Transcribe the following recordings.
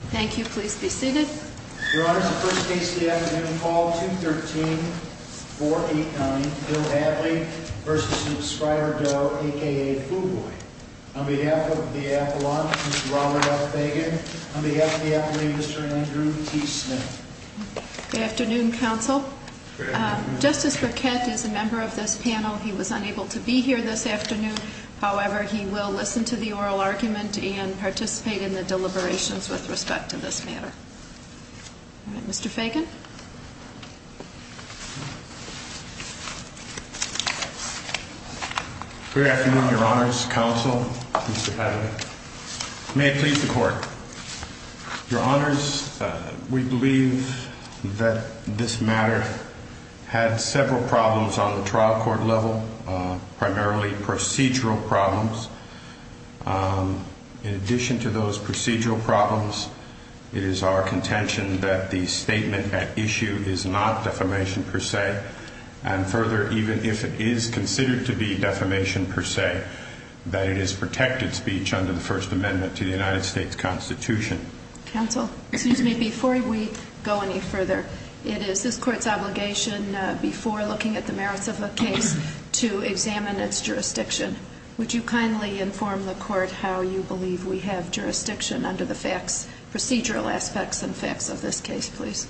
A.K.A. Foo Boy. On behalf of the Appalachians, Mr. Robert F. Fagan. On behalf of the Appalachians, Mr. Andrew T. Smith. Good afternoon, counsel. Justice Briquette is a member of this panel. He was unable to be here this afternoon. However, he will listen to the oral argument and participate in the deliberations with respect to this matter. Mr. Fagan. Good afternoon, your honors, counsel, Mr. Padley. May it please the court. Your honors, we believe that this matter had several problems on the trial court level, primarily procedural problems. In addition to those procedural problems, it is our contention that the statement at issue is not defamation per se. And further, even if it is considered to be defamation per se, that it is protected speech under the First Amendment to the United States Constitution. Counsel, excuse me, before we go any further, it is this court's obligation before looking at the merits of a case to examine its jurisdiction. Would you kindly inform the court how you believe we have jurisdiction under the facts, procedural aspects and facts of this case, please.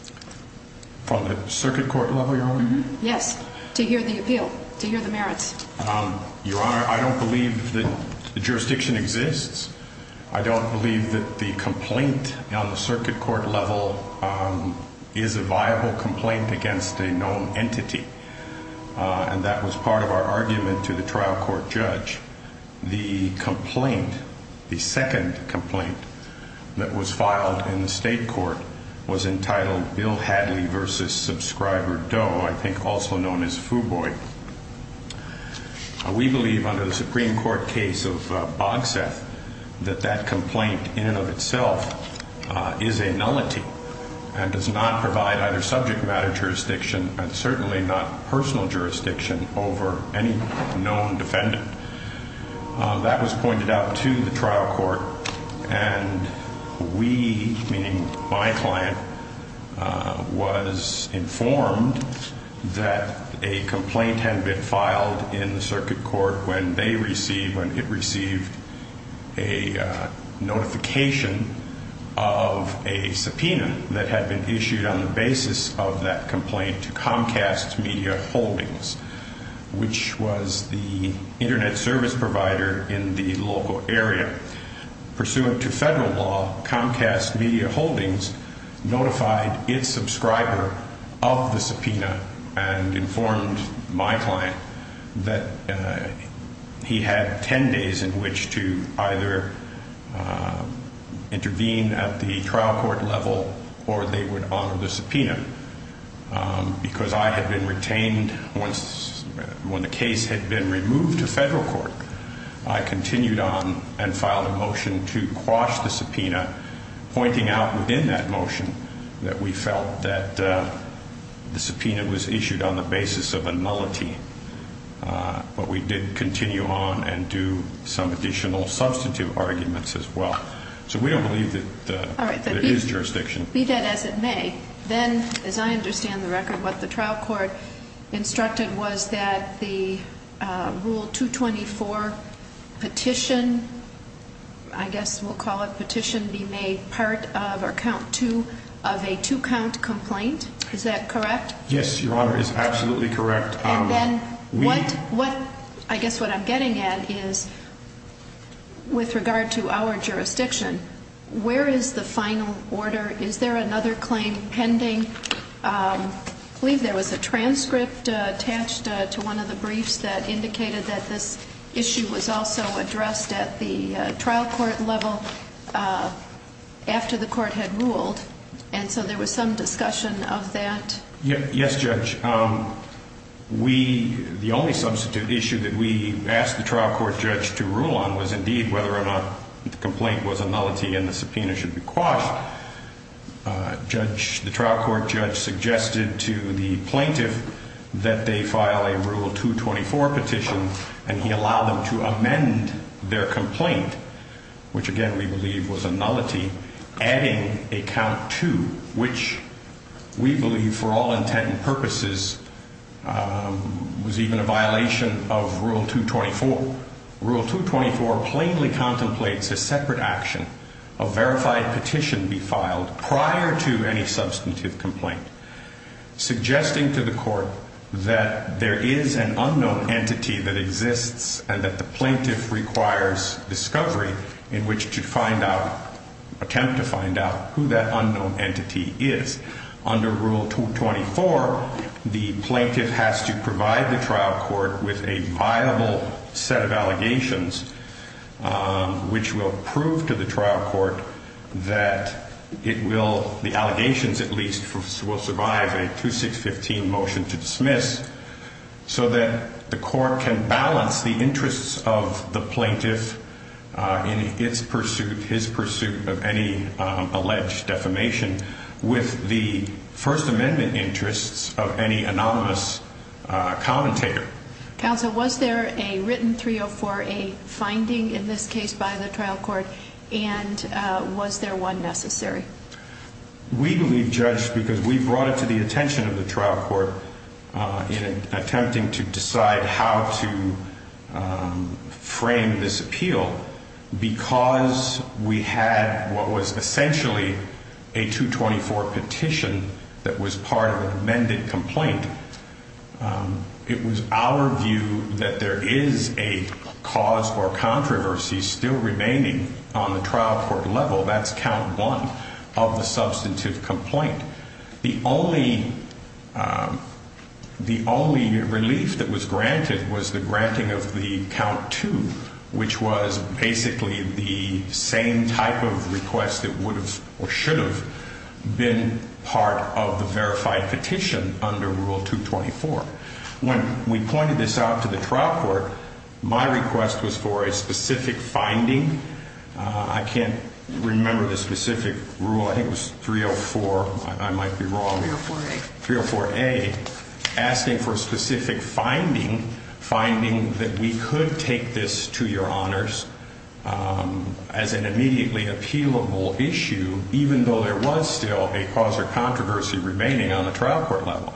From the circuit court level, your honor? Yes, to hear the appeal, to hear the merits. Your honor, I don't believe that the jurisdiction exists. I don't believe that the complaint on the circuit court level is a viable complaint against a known entity. And that was part of our argument to the trial court judge. The complaint, the second complaint that was filed in the state court was entitled Bill Hadley v. Subscriber Doe, I think also known as Fuboy. We believe under the Supreme Court case of Bogseth that that complaint in and of itself is a nullity and does not provide either subject matter jurisdiction and certainly not personal jurisdiction over any known defendant. That was pointed out to the trial court and we, meaning my client, was informed that a complaint had been filed in the circuit court when they received, when it received a notification of a subpoena that had been issued on the basis of that complaint to Comcast Media Holdings, which was the Internet service provider in the local area. Pursuant to federal law, Comcast Media Holdings notified its subscriber of the subpoena and informed my client that he had 10 days in which to either intervene at the trial court level or they would honor the subpoena. Because I had been retained when the case had been removed to federal court, I filed a motion to quash the subpoena, pointing out within that motion that we felt that the subpoena was issued on the basis of a nullity. But we did continue on and do some additional substitute arguments as well. So we don't believe that there is jurisdiction. Be that as it may, then, as I understand the record, what the trial court instructed was that the Rule 224 petition, I guess we'll call it petition, be made part of or count to of a two-count complaint. Is that correct? Yes, Your Honor, it is absolutely correct. And then what, I guess what I'm getting at is with regard to our jurisdiction, where is the final order? Is there another claim pending? I believe there was a transcript attached to one of the briefs that indicated that this issue was also addressed at the trial court level after the court had ruled. And so there was some discussion of that. Yes, Judge. We, the only substitute issue that we asked the trial court judge to rule on was indeed whether or not the complaint was a nullity and the subpoena should be quashed. Judge, the trial court judge suggested to the court that the court be allowed to amend their complaint, which again we believe was a nullity, adding a count to, which we believe for all intent and purposes was even a violation of Rule 224. Rule 224 plainly contemplates a separate action, a verified petition be filed prior to any substantive complaint, suggesting to the court that there is an unknown entity that exists and that the plaintiff requires discovery in which to find out, attempt to find out who that unknown entity is. Under Rule 224, the plaintiff has to provide the trial court with a viable set of allegations, which will prove to the trial court that it will, the allegations at least, will survive a 2615 motion to dismiss so that the court can balance the interests of the plaintiff in its pursuit, his pursuit of any alleged defamation with the First Amendment interests of any anonymous commentator. Counsel, was there a written 304A finding in this case by the trial court and was there one necessary? We believe, Judge, because we brought it to the attention of the trial court in attempting to decide how to frame this appeal, because we had what was essentially a 224 petition that was part of an amended complaint. It was our view that there is a cause for controversy still remaining on the trial court level. That's count one. That's count two, which was basically the same type of request that would have or should have been part of the verified petition under Rule 224. When we pointed this out to the trial court, my request was for a specific finding. I can't remember the specific rule. I think it was 304. I might be wrong here. 304A, asking for a specific finding, finding that we could take this to your honors as an immediately appealable issue, even though there was still a cause for controversy remaining on the trial court level.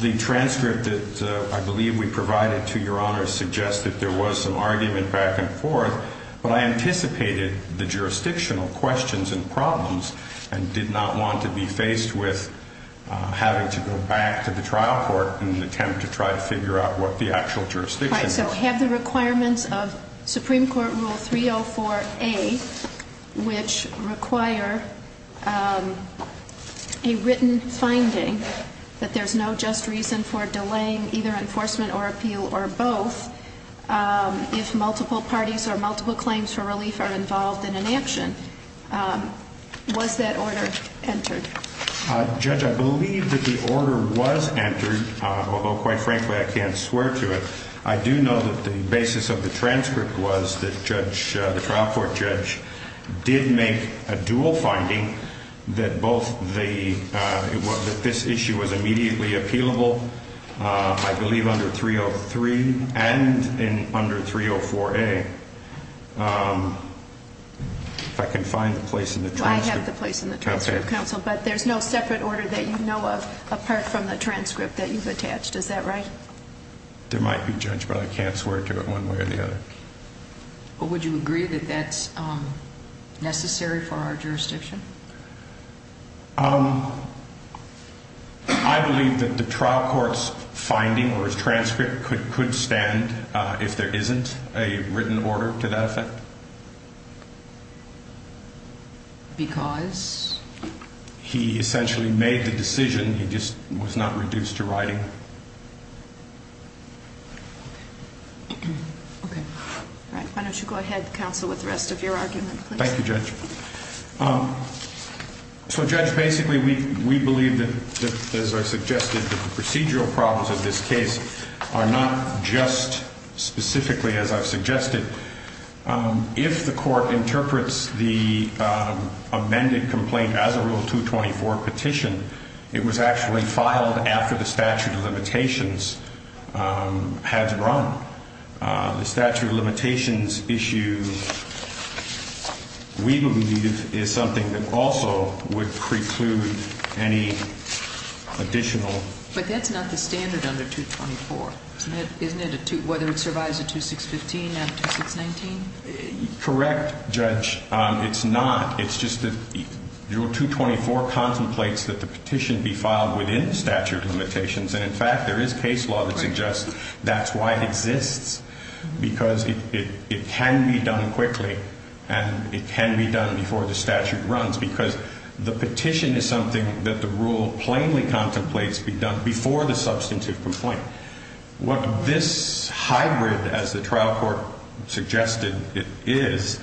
The transcript that I believe we provided to your honors suggests that there was some argument back and forth, but I anticipated the jurisdictional questions and problems and did not want to be faced with having to go back to the trial court in an attempt to try to figure out what the actual jurisdiction was. All right. So have the requirements of Supreme Court Rule 304A, which require a written finding that there's no just reason for delaying either multiple parties or multiple claims for relief, are involved in an action. Was that order entered? Judge, I believe that the order was entered, although quite frankly, I can't swear to it. I do know that the basis of the transcript was that the trial court judge did make a dual finding that this issue was immediately appealable, I believe, under 303 and under 304A. If I can find the place in the transcript. I have the place in the transcript, counsel, but there's no separate order that you know of apart from the transcript that you've attached. Is that right? There might be, Judge, but I can't swear to it one way or the other. Would you agree that that's necessary for our jurisdiction? I believe that the trial court's finding or transcript could stand if there isn't a written order to that effect. Because? He essentially made the decision. He just was not reduced to writing. Okay. Why don't you go ahead, counsel, with the rest of your argument? Thank you, Judge. So, Judge, basically, we believe that, as I suggested, that the procedural problems of this case are not just specifically as I've suggested. If the court interprets the amended complaint as a Rule 224 petition, it was actually filed after the statute of limitations has run. The statute of limitations issue, we believe, is something that also would preclude any additional... But that's not the standard under 224. Isn't it? Whether it survives a 2615 and a 2619? Correct, Judge. It's not. It's just that Rule 224 contemplates that the petition be filed within statute of limitations. And, in fact, there is case law that suggests that's why it exists, because it can be done quickly and it can be done before the statute runs, because the petition is something that the Rule plainly contemplates be done before the substantive complaint. What this hybrid, as the trial court suggested it is,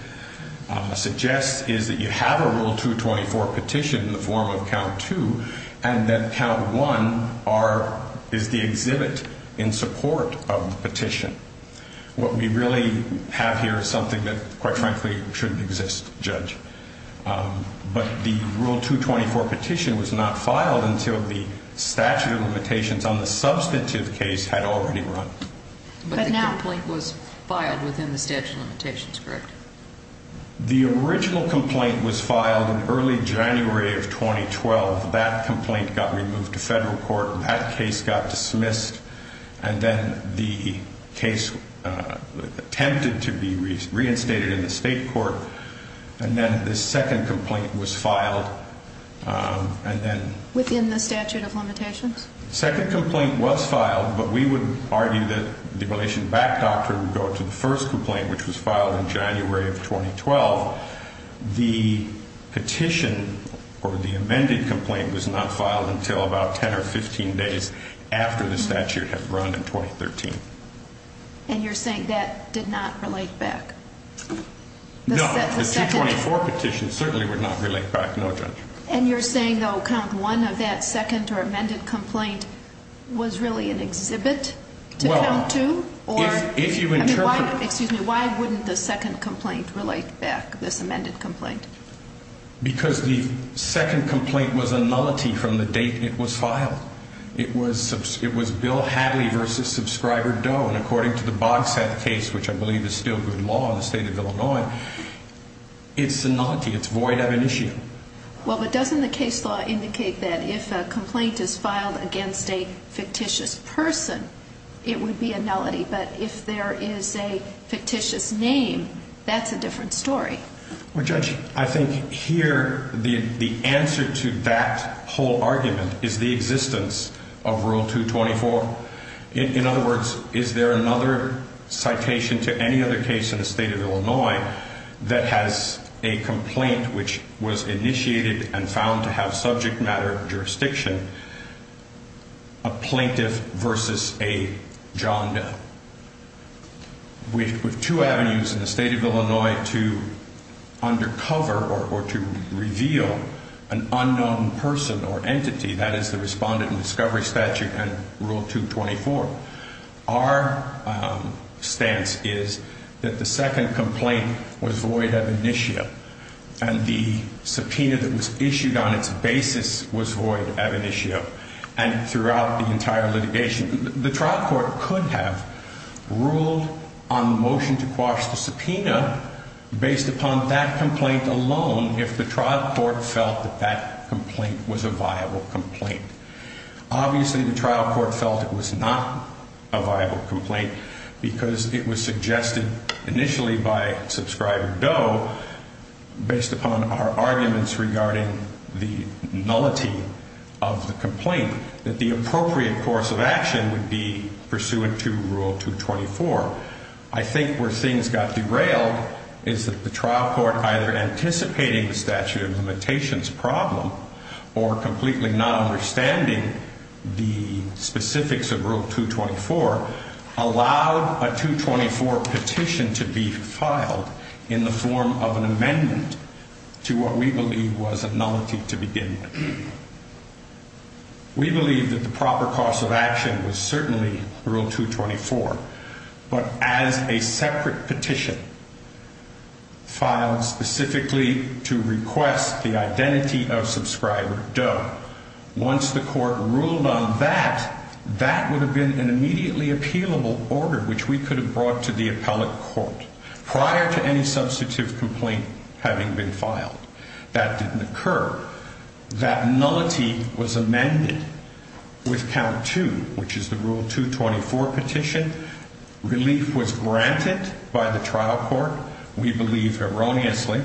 suggests is that you have a Rule 224 petition in the form of Count 2, and that Count 1 is the exhibit in support of the petition. What we really have here is something that, quite frankly, shouldn't exist, Judge. But the Rule 224 petition was not filed until the statute of limitations on the substantive case had already run. But the complaint was filed within the statute of limitations, correct? The original complaint was filed in early January of 2012. That complaint got removed to federal court. That case got dismissed. And then the case attempted to be reinstated in the state court. And then the second complaint was filed, and then... Within the statute of limitations? The second complaint was filed, but we would argue that the relation back doctrine would go to the first complaint, which was filed in January of 2012. The petition, or the amended complaint, was not filed until about 10 or 15 days after the statute had run in 2013. And you're saying that did not relate back? No, the 224 petition certainly would not relate back, no, Judge. And you're saying, though, Count 1 of that second or amended complaint was really an exhibit to Count 2? Excuse me, why wouldn't the second complaint relate back, this amended complaint? Because the second complaint was a nullity from the date it was filed. It was Bill Hadley v. Subscriber Doe. And according to the Bogsat case, which I believe is still good law in the state of Illinois, it's a nullity. It's void ad initio. Well, but doesn't the case law indicate that if a complaint is filed against a fictitious person, it would be a nullity? But if there is a fictitious name, that's a different story. Well, Judge, I think here the answer to that whole argument is the existence of Rule 224. In other words, is there another citation to any other case in the state of Illinois that has a complaint which was a nullity? In other words, is there another case that has been initiated and found to have subject matter jurisdiction, a plaintiff v. a John Doe? We have two avenues in the state of Illinois to undercover or to reveal an unknown person or entity. That is the Respondent in Discovery Statute and Rule 224. Our stance is that the second complaint was void ad initio and the subpoena that was issued on its basis was void ad initio and throughout the entire litigation. The trial court could have ruled on motion to quash the subpoena based upon that complaint alone if the trial court felt that that complaint was a viable complaint. Obviously, the trial court felt it was not a viable complaint because it was suggested initially by Subscriber Doe based upon our arguments regarding the nullity of the complaint, that the appropriate course of action would be pursuant to Rule 224. I think where things got derailed is that the trial court either anticipating the statute of limitations problem or completely not understanding the statute of limitations. The fact that they were not understanding the specifics of Rule 224 allowed a 224 petition to be filed in the form of an amendment to what we believe was a nullity to begin with. We believe that the proper course of action was certainly Rule 224, but as a separate petition filed specifically to request the identity of Subscriber Doe. Once the court ruled on that, that would have been an immediately appealable order which we could have brought to the appellate court prior to any substantive complaint having been filed. That didn't occur. That nullity was amended with count two, which is the Rule 224 petition. Relief was granted by the trial court, we believe erroneously,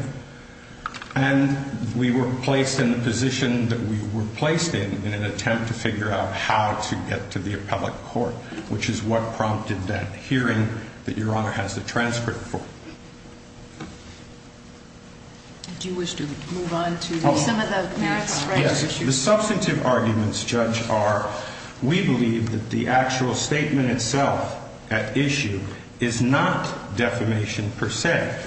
and we were placed in the position that we were placed in, in an attempt to figure out how to get to the appellate court, which is what prompted that hearing that Your Honor has the transcript for. Do you wish to move on to some of the merits? The substantive arguments, Judge, are we believe that the actual statement itself at issue is not defamation per se.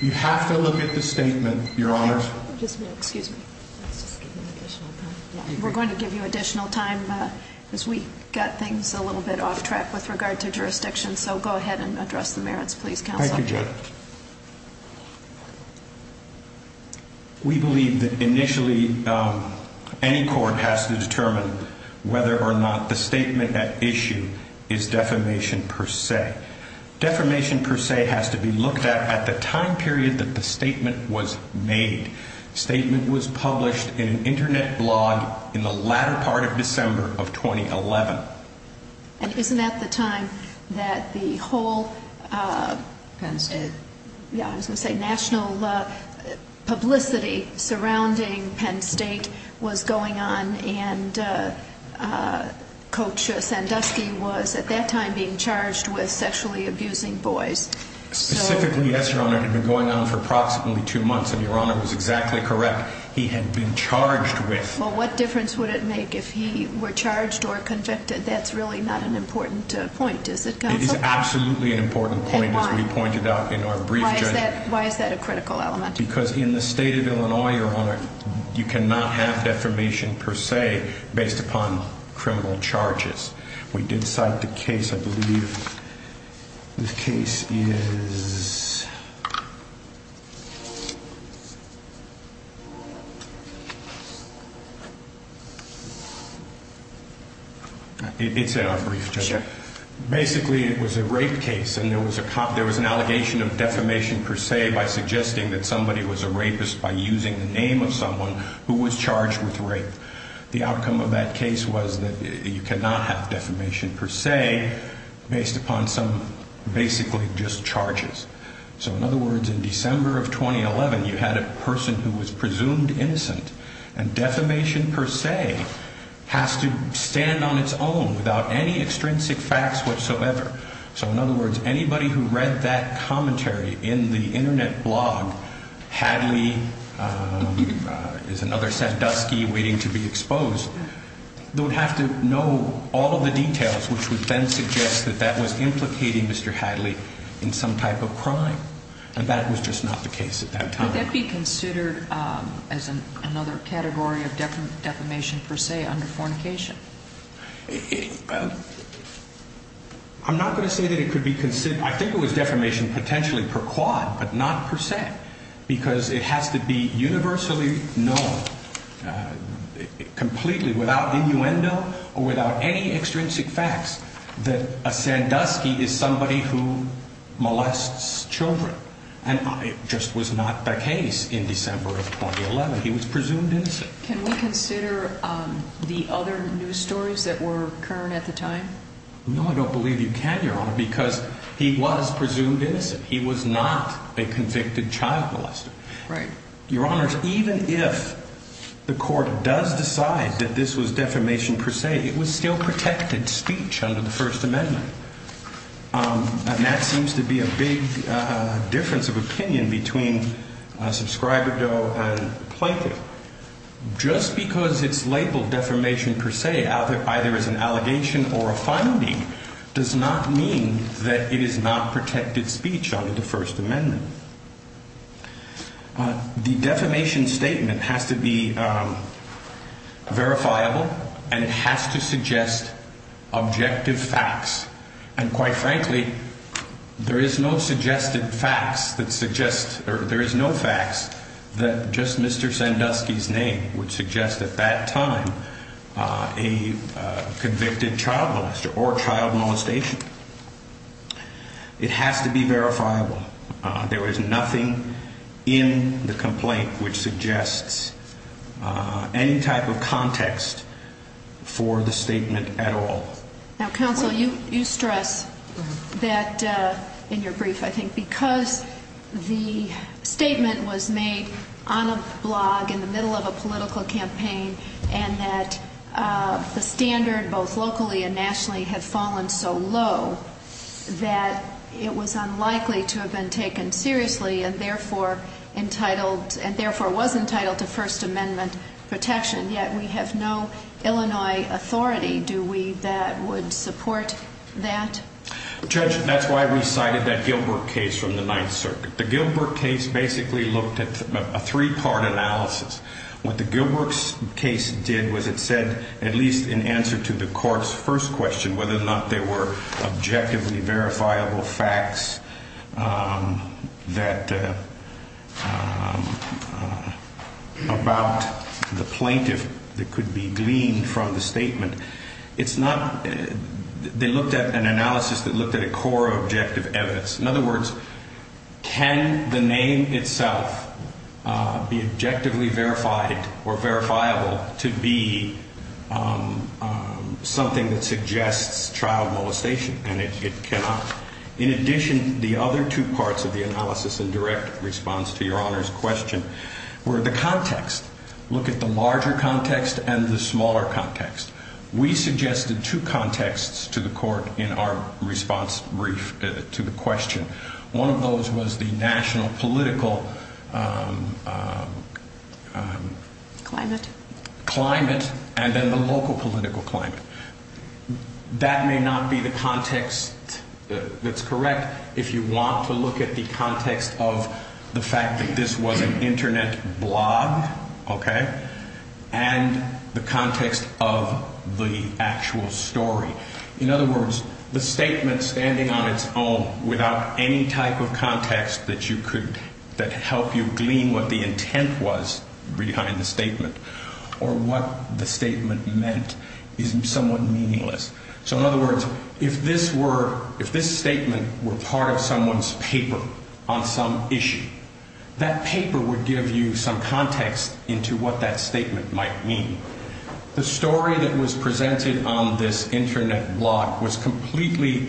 You have to look at the statement, Your Honor. We're going to give you additional time as we got things a little bit off track with regard to jurisdiction. So go ahead and address the merits, please, Counsel. Thank you, Judge. We believe that initially any court has to determine whether or not the statement at issue is defamation per se. Defamation per se has to be looked at at the time period that the statement was made. The statement was published in an Internet blog in the latter part of December of 2011. And isn't that the time that the whole national publicity surrounding Penn State was going on, and Coach Sandusky was at that time being charged with sexually abusing boys? Specifically, yes, Your Honor. It had been going on for approximately two months, and Your Honor was exactly correct. The statement was published in an Internet blog in December of 2011. And isn't that the time that the whole national publicity surrounding Penn State was going on, and Coach Sandusky was at that time being charged with sexually abusing boys? Well, what difference would it make if he were charged or convicted? That's really not an important point, is it, Counsel? It is absolutely an important point, as we pointed out in our brief, Judge. Why is that a critical element? Because in the state of Illinois, Your Honor, you cannot have defamation per se based upon criminal charges. We did cite the case, I believe. The case is... It's in our brief, Judge. Basically, it was a rape case, and there was an allegation of defamation per se by suggesting that somebody was a rapist by using the name of someone who was charged with rape. The outcome of that case was that you cannot have defamation per se based upon some basically just charges. So, in other words, in December of 2011, you had a person who was presumed innocent, and defamation per se has to stand on its own without any extrinsic facts whatsoever. So, in other words, anybody who read that commentary in the Internet blog, Hadley is another Sandusky waiting to be charged with rape. So, in other words, if a person's name was used to be exposed, they would have to know all of the details, which would then suggest that that was implicating Mr. Hadley in some type of crime. And that was just not the case at that time. Would that be considered as another category of defamation per se under fornication? I'm not going to say that it could be considered. I think it was defamation potentially per quad, but not per se, because it has to be universally known completely without innuendo or without any extrinsic facts that a Sandusky is somebody who molests children. And it just was not the case in December of 2011. He was presumed innocent. Can we consider the other news stories that were current at the time? No, I don't believe you can, Your Honor, because he was presumed innocent. He was not a convicted child molester. Right. Your Honor, even if the court does decide that this was defamation per se, it was still protected speech under the First Amendment. And that seems to be a big difference of opinion between subscriber doe and plaintiff. So just because it's labeled defamation per se, either as an allegation or a finding, does not mean that it is not protected speech under the First Amendment. The defamation statement has to be verifiable and it has to suggest objective facts. And quite frankly, there is no suggested facts that suggest or there is no facts that just Mr. Sandusky is guilty of defamation. Mr. Sandusky's name would suggest at that time a convicted child molester or child molestation. It has to be verifiable. There is nothing in the complaint which suggests any type of context for the statement at all. Now, counsel, you stress that in your brief, I think, because the statement was made on a blog in the Middle East, in the middle of a political campaign, and that the standard both locally and nationally had fallen so low that it was unlikely to have been taken seriously and therefore entitled and therefore was entitled to First Amendment protection. Yet we have no Illinois authority, do we, that would support that? Judge, that's why we cited that Gilbert case from the Ninth Circuit. What the Gilbert case did was it said, at least in answer to the court's first question, whether or not there were objectively verifiable facts that, about the plaintiff that could be gleaned from the statement. It's not, they looked at an analysis that looked at a core objective evidence. In other words, can the name itself be objectively verified or verifiable to be something that suggests child molestation, and it cannot. In addition, the other two parts of the analysis in direct response to Your Honor's question were the context. Look at the larger context and the smaller context. We suggested two contexts to the court in our response to the question. One of those was the national political climate and then the local political climate. That may not be the context that's correct. If you want to look at the context of the fact that this was an Internet blog, okay, you have to look at the context of the statement and the context of the actual story. In other words, the statement standing on its own without any type of context that you could, that help you glean what the intent was behind the statement or what the statement meant is somewhat meaningless. So in other words, if this statement were part of someone's paper on some issue, that paper would give you some context into what that statement might mean. The story that was presented on this Internet blog was completely,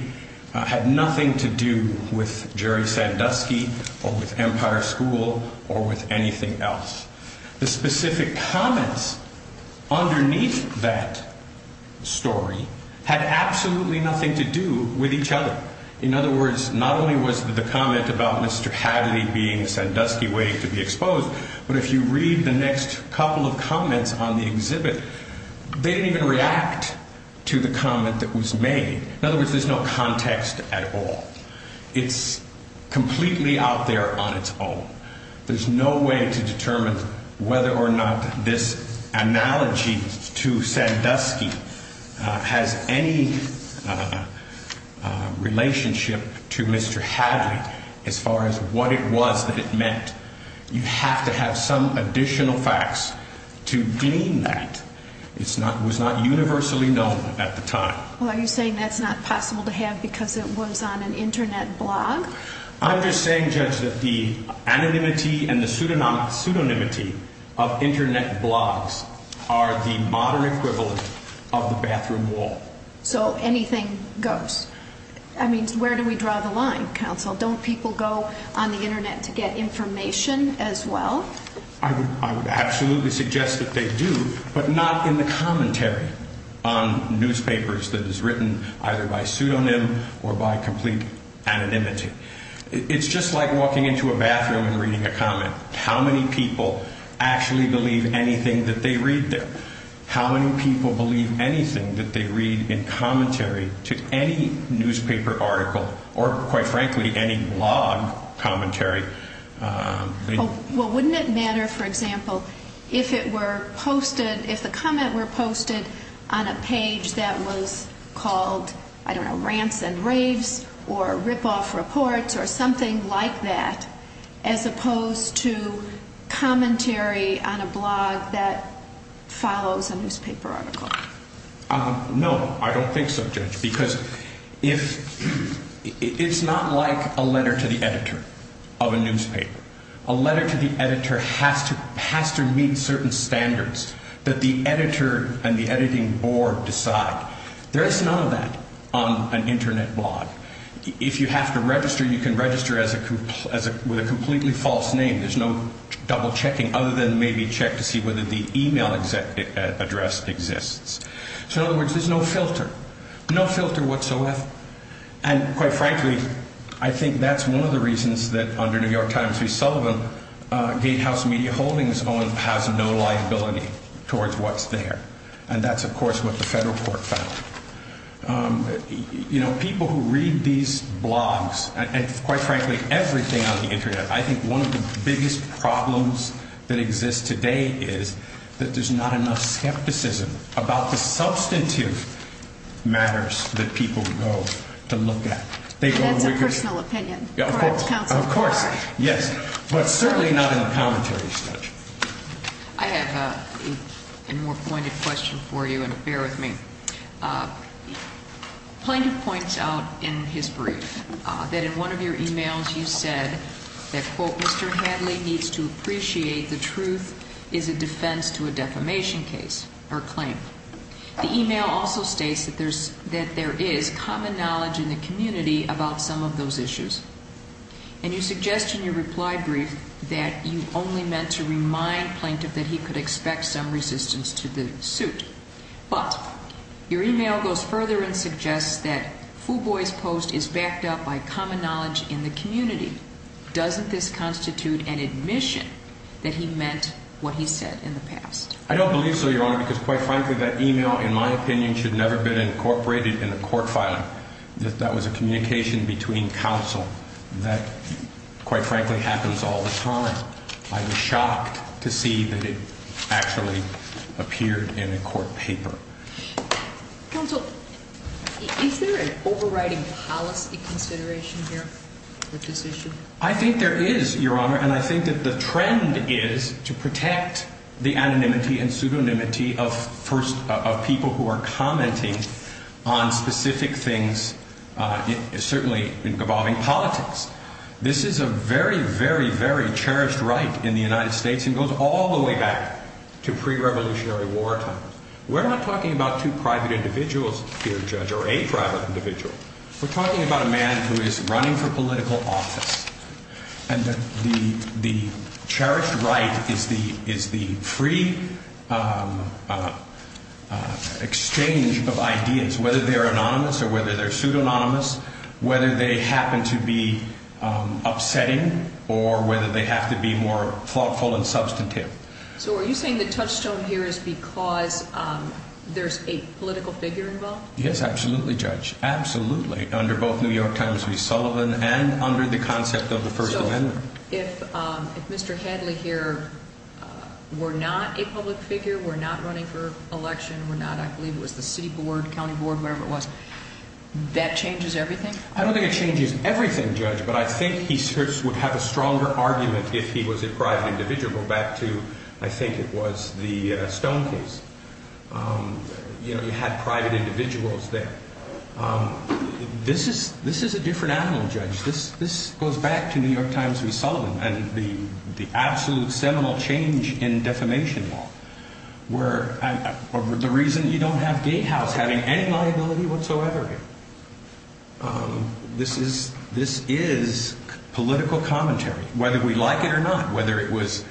had nothing to do with Jerry Sandusky or with Empire School or with anything else. The specific comments underneath that story had absolutely nothing to do with each other. In other words, not only was the comment about Mr. Hadley being a Sandusky way to be exposed, but if you read the next couple of comments on the exhibit, they didn't even react to the comment that was made. In other words, there's no context at all. It's completely out there on its own. There's no way to determine whether or not this analogy to Sandusky has any relationship to Mr. Hadley as far as what it was that it meant. You have to have some additional facts to glean that. It was not universally known at the time. Well, are you saying that's not possible to have because it was on an Internet blog? I'm just saying, Judge, that the anonymity and the pseudonymity of Internet blogs are the modern equivalent of the bathroom wall. So anything goes. I mean, where do we draw the line, counsel? Don't people go on the Internet to get information as well? I would absolutely suggest that they do, but not in the commentary on newspapers that is written either by pseudonym or by complete anonymity. It's just like walking into a bathroom and reading a comment. How many people actually believe anything that they read there? How many people believe anything that they read in commentary to any newspaper article or, quite frankly, any blog commentary? Well, wouldn't it matter, for example, if the comment were posted on a page that was called, I don't know, Rants and Raves or Ripoff Reports or something like that as opposed to commentary on a blog that follows a newspaper article? No, I don't think so, Judge, because it's not like a letter to the editor of a newspaper. A letter to the editor has to meet certain standards that the editor and the editing board decide. There is none of that on an Internet blog. If you have to register, you can register with a completely false name. There's no double-checking other than maybe check to see whether the email address exists. So, in other words, there's no filter, no filter whatsoever. And, quite frankly, I think that's one of the reasons that, under New York Times v. Sullivan, Gatehouse Media Holdings has no liability towards what's there. And that's, of course, what the federal court found. You know, people who read these blogs and, quite frankly, everything on the Internet, I think one of the biggest problems that exists today is that there's not enough skepticism about the substantive matters that people go to look at. And that's a personal opinion. Of course, yes, but certainly not in the commentary, Judge. I have a more pointed question for you, and bear with me. Plaintiff points out in his brief that in one of your emails you said that, quote, Mr. Hadley needs to appreciate the truth is a defense to a defamation case or claim. The email also states that there is common knowledge in the community about some of those issues. And you suggest in your reply brief that you only meant to remind Plaintiff that he could expect some resistance to the suit. But your email goes further and suggests that Fuboy's post is backed up by common knowledge in the community. Doesn't this constitute an admission that he meant what he said in the past? I don't believe so, Your Honor, because, quite frankly, that email, in my opinion, should never have been incorporated in a court filing. That was a communication between counsel. That, quite frankly, happens all the time. I was shocked to see that it actually appeared in a court paper. Counsel, is there an overriding policy consideration here with this issue? I think there is, Your Honor, and I think that the trend is to protect the anonymity and pseudonymity of people who are commenting on specific things, certainly involving politics. This is a very, very, very cherished right in the United States and goes all the way back to pre-Revolutionary war times. We're not talking about two private individuals here, Judge, or a private individual. We're talking about a man who is running for political office. And the cherished right is the free exchange of ideas, whether they're anonymous or whether they're pseudonymous, whether they happen to be upsetting or whether they have to be more thoughtful and substantive. So are you saying the touchstone here is because there's a political figure involved? Yes, absolutely, Judge, absolutely, under both New York Times v. Sullivan and under the concept of the First Amendment. So if Mr. Hadley here were not a public figure, were not running for election, were not, I believe it was the city board, county board, whatever it was, that changes everything? I don't think it changes everything, Judge, but I think he would have a stronger argument if he was a private individual, back to, I think it was the Stone case. You know, you had private individuals there. This is a different animal, Judge. This goes back to New York Times v. Sullivan and the absolute seminal change in defamation law, where the reason you don't have Gatehouse having any liability whatsoever, this is political commentary, whether we like it or not, whether it was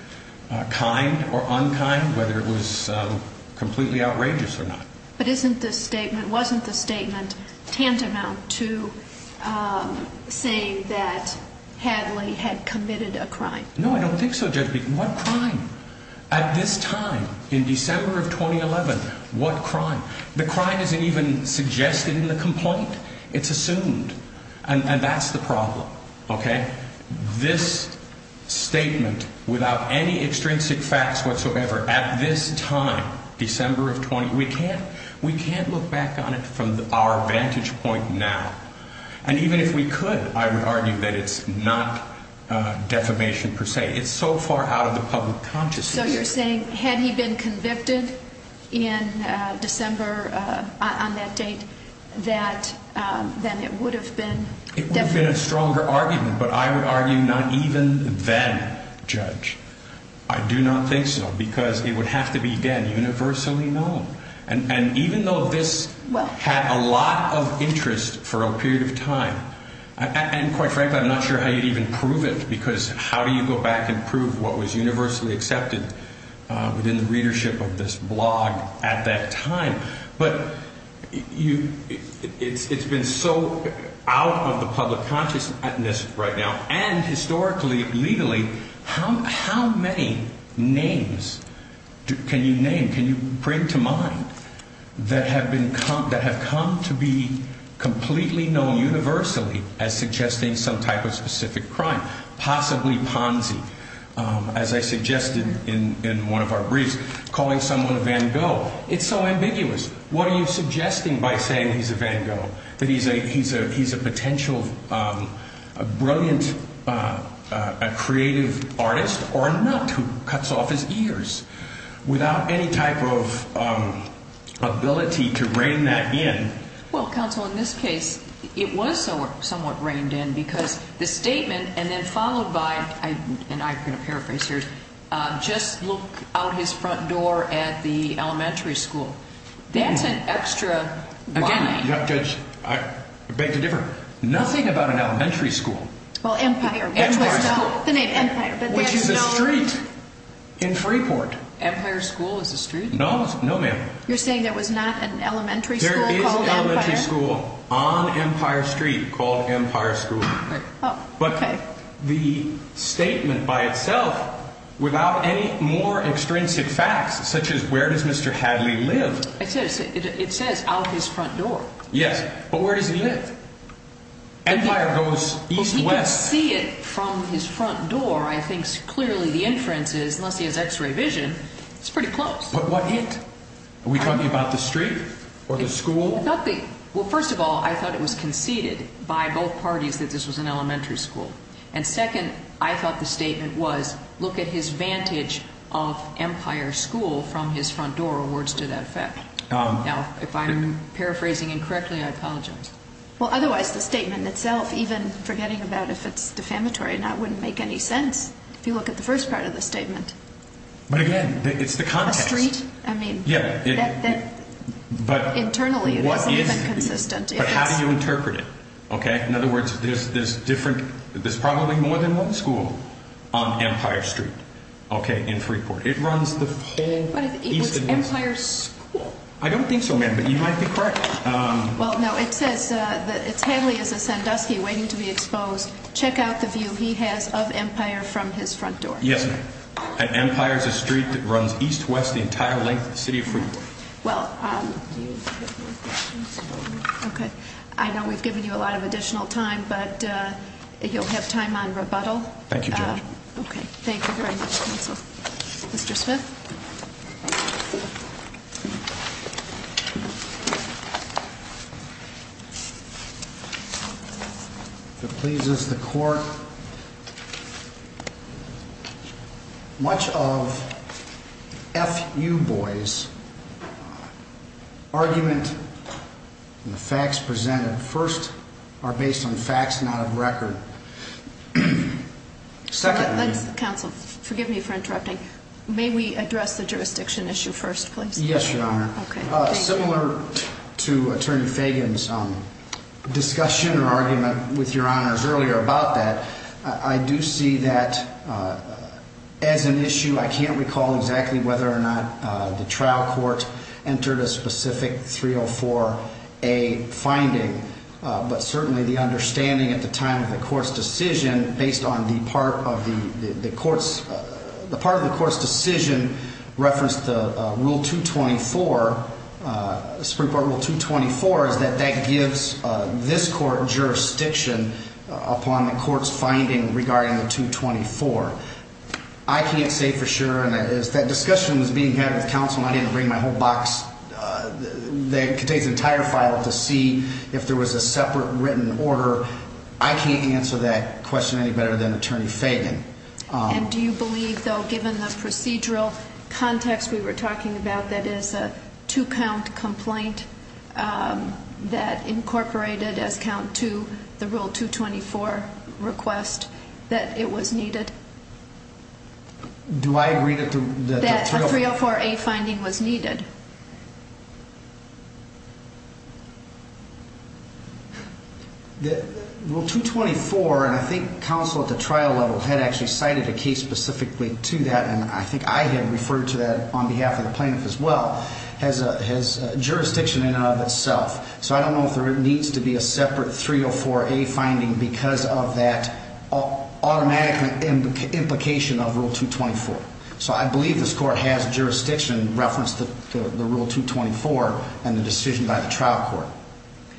kind or unkind, whether it was completely outrageous or not. But isn't this statement, wasn't the statement tantamount to saying that Hadley had committed a crime? No, I don't think so, Judge. What crime? At this time, in December of 2011, what crime? The crime isn't even suggested in the complaint. It's assumed. And that's the problem, okay? This statement, without any extrinsic facts whatsoever, at this time, December of 20, we can't look back on it from our vantage point now. And even if we could, I would argue that it's not defamation per se. It's so far out of the public consciousness. So you're saying had he been convicted in December on that date, that then it would have been defamation? It would have been a stronger argument, but I would argue not even then, Judge. I do not think so, because it would have to be, again, universally known. And even though this had a lot of interest for a period of time, and quite frankly, I'm not sure how you'd even prove it, because how do you go back and prove what was universally accepted within the readership of this blog at that time? But it's been so out of the public consciousness right now, and historically, legally, how many names can you name, can you bring to mind that have come to be completely known universally as suggesting some type of specific crime? Possibly Ponzi, as I suggested in one of our briefs, calling someone a Van Gogh. It's so ambiguous. What are you suggesting by saying he's a Van Gogh, that he's a potential brilliant creative artist or not, who cuts off his ears without any type of ability to rein that in? Well, counsel, in this case, it was somewhat reined in because the statement, and then followed by, and I'm going to paraphrase here, just look out his front door at the elementary school. That's an extra line. Again, Judge, I beg to differ. Nothing about an elementary school. Well, Empire. Empire School, which is a street in Freeport. Empire School is a street? No, ma'am. You're saying there was not an elementary school called Empire? There is an elementary school on Empire Street called Empire School. But the statement by itself, without any more extrinsic facts, such as where does Mr. Hadley live? It says out his front door. Yes, but where does he live? Empire goes east-west. Well, if you can see it from his front door, I think clearly the inference is, unless he has x-ray vision, it's pretty close. But what hit? Are we talking about the street or the school? Nothing. Well, first of all, I thought it was conceded by both parties that this was an elementary school. And second, I thought the statement was, look at his vantage of Empire School from his front door. Words to that effect. Now, if I'm paraphrasing incorrectly, I apologize. Well, otherwise the statement itself, even forgetting about if it's defamatory or not, wouldn't make any sense, if you look at the first part of the statement. But again, it's the context. The street? I mean, internally. But how do you interpret it? In other words, there's probably more than one school on Empire Street in Freeport. It runs the whole east and west. But it's Empire School. I don't think so, ma'am, but you might be correct. Well, no, it says that it's Hadley as a Sandusky waiting to be exposed. Check out the view he has of Empire from his front door. Yes, ma'am. And Empire is a street that runs east-west the entire length of the city of Freeport. Well, okay. I know we've given you a lot of additional time, but you'll have time on rebuttal. Thank you, Judge. Okay. Thank you very much, counsel. Mr. Smith. If it pleases the court, much of F.U. Boyd's argument and the facts presented, first, are based on facts not of record. Second, ma'am. Counsel, forgive me for interrupting. May we address the jurisdiction issue first, please? Yes, Your Honor. Okay. Similar to Attorney Fagan's discussion or argument with Your Honors earlier about that, I do see that as an issue I can't recall exactly whether or not the trial court entered a specific 304A finding, but certainly the understanding at the time of the court's decision based on the part of the court's decision referenced the Rule 224, Supreme Court Rule 224, is that that gives this court jurisdiction upon the court's finding regarding the 224. I can't say for sure, and as that discussion was being had with counsel, I didn't bring my whole box that contains the entire file to see if there was a separate written order. I can't answer that question any better than Attorney Fagan. And do you believe, though, given the procedural context we were talking about, that is a two-count complaint that incorporated as count two the Rule 224 request, that it was needed? Do I agree that the 304? A finding was needed? Rule 224, and I think counsel at the trial level had actually cited a case specifically to that, and I think I had referred to that on behalf of the plaintiff as well, has jurisdiction in and of itself. So I don't know if there needs to be a separate 304A finding because of that automatic implication of Rule 224. So I believe this court has jurisdiction reference to the Rule 224 and the decision by the trial court.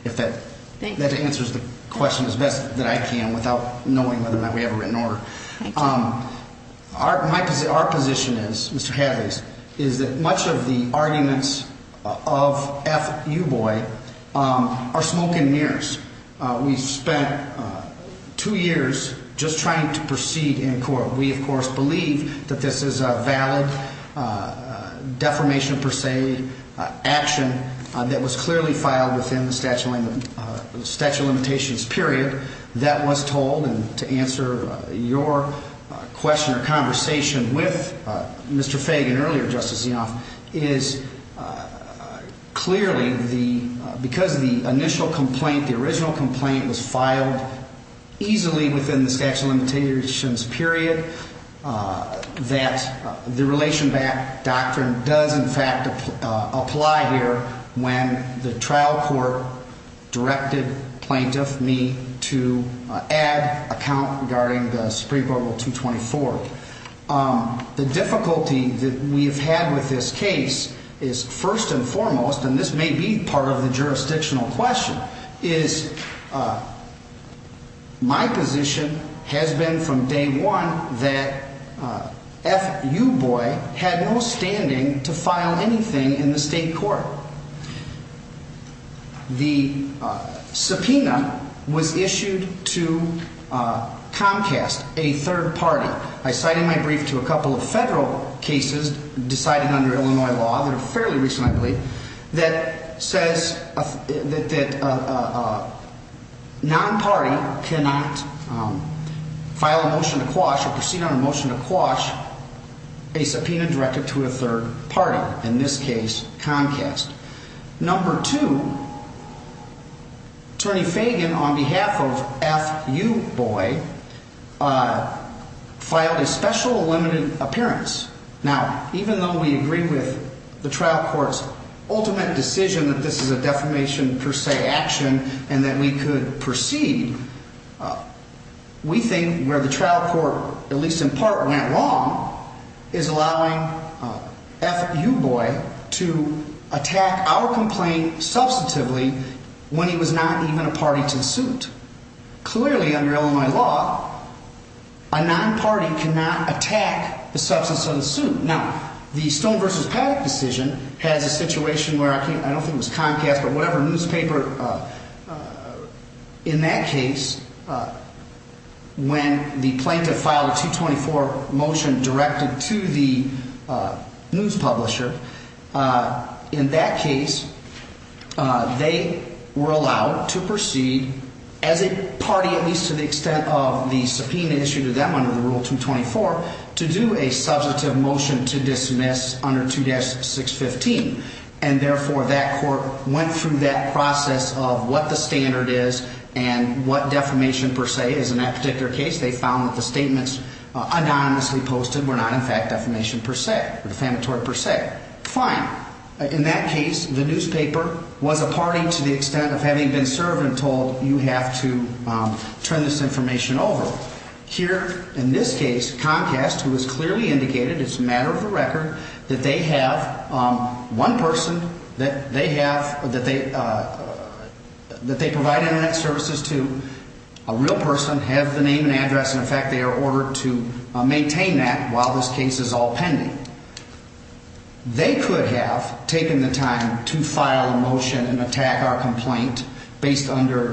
If that answers the question as best that I can without knowing whether or not we have a written order. Thank you. Our position is, Mr. Hadley's, is that much of the arguments of F. Euboy are smoke and mirrors. We spent two years just trying to proceed in court. We, of course, believe that this is a valid defamation per se action that was clearly filed within the statute of limitations period. That was told, and to answer your question or conversation with Mr. Fagan earlier, is clearly the, because the initial complaint, the original complaint was filed easily within the statute of limitations period, that the relation back doctrine does in fact apply here when the trial court directed plaintiff me to add a count regarding the Supreme Court Rule 224. The difficulty that we have had with this case is first and foremost, and this may be part of the jurisdictional question, is my position has been from day one that F. Euboy had no standing to file anything in the state court. The subpoena was issued to Comcast, a third party. I cited my brief to a couple of federal cases decided under Illinois law that are fairly recent, I believe, that says that a non-party cannot file a motion to quash or proceed on a motion to quash a subpoena directed to a third party. And that is not the case here. In this case, Comcast. Number two, Attorney Fagan, on behalf of F. Euboy, filed a special limited appearance. Now, even though we agree with the trial court's ultimate decision that this is a defamation per se action and that we could proceed, we think where the trial court, at least in part, went wrong is allowing F. Euboy to attack our complaint substantively when he was not even a party to the suit. Clearly, under Illinois law, a non-party cannot attack the substance of the suit. Now, the Stone v. Paddock decision has a situation where I don't think it was Comcast, but whatever newspaper, in that case, when the plaintiff filed a 224 motion directed to the news publisher, in that case, they were allowed to proceed as a party, at least to the extent of the subpoena issued to them under the Rule 224, to do a substantive motion to dismiss under 2-615. And therefore, that court went through that process of what the standard is and what defamation per se is. In that particular case, they found that the statements anonymously posted were not, in fact, defamation per se, defamatory per se. Fine. In that case, the newspaper was a party to the extent of having been served and told, you have to turn this information over. Here, in this case, Comcast, who has clearly indicated it's a matter of the record that they have one person that they have, that they provide Internet services to, a real person, have the name and address, and, in fact, they are ordered to maintain that while this case is all pending. They could have taken the time to file a motion and attack our complaint based under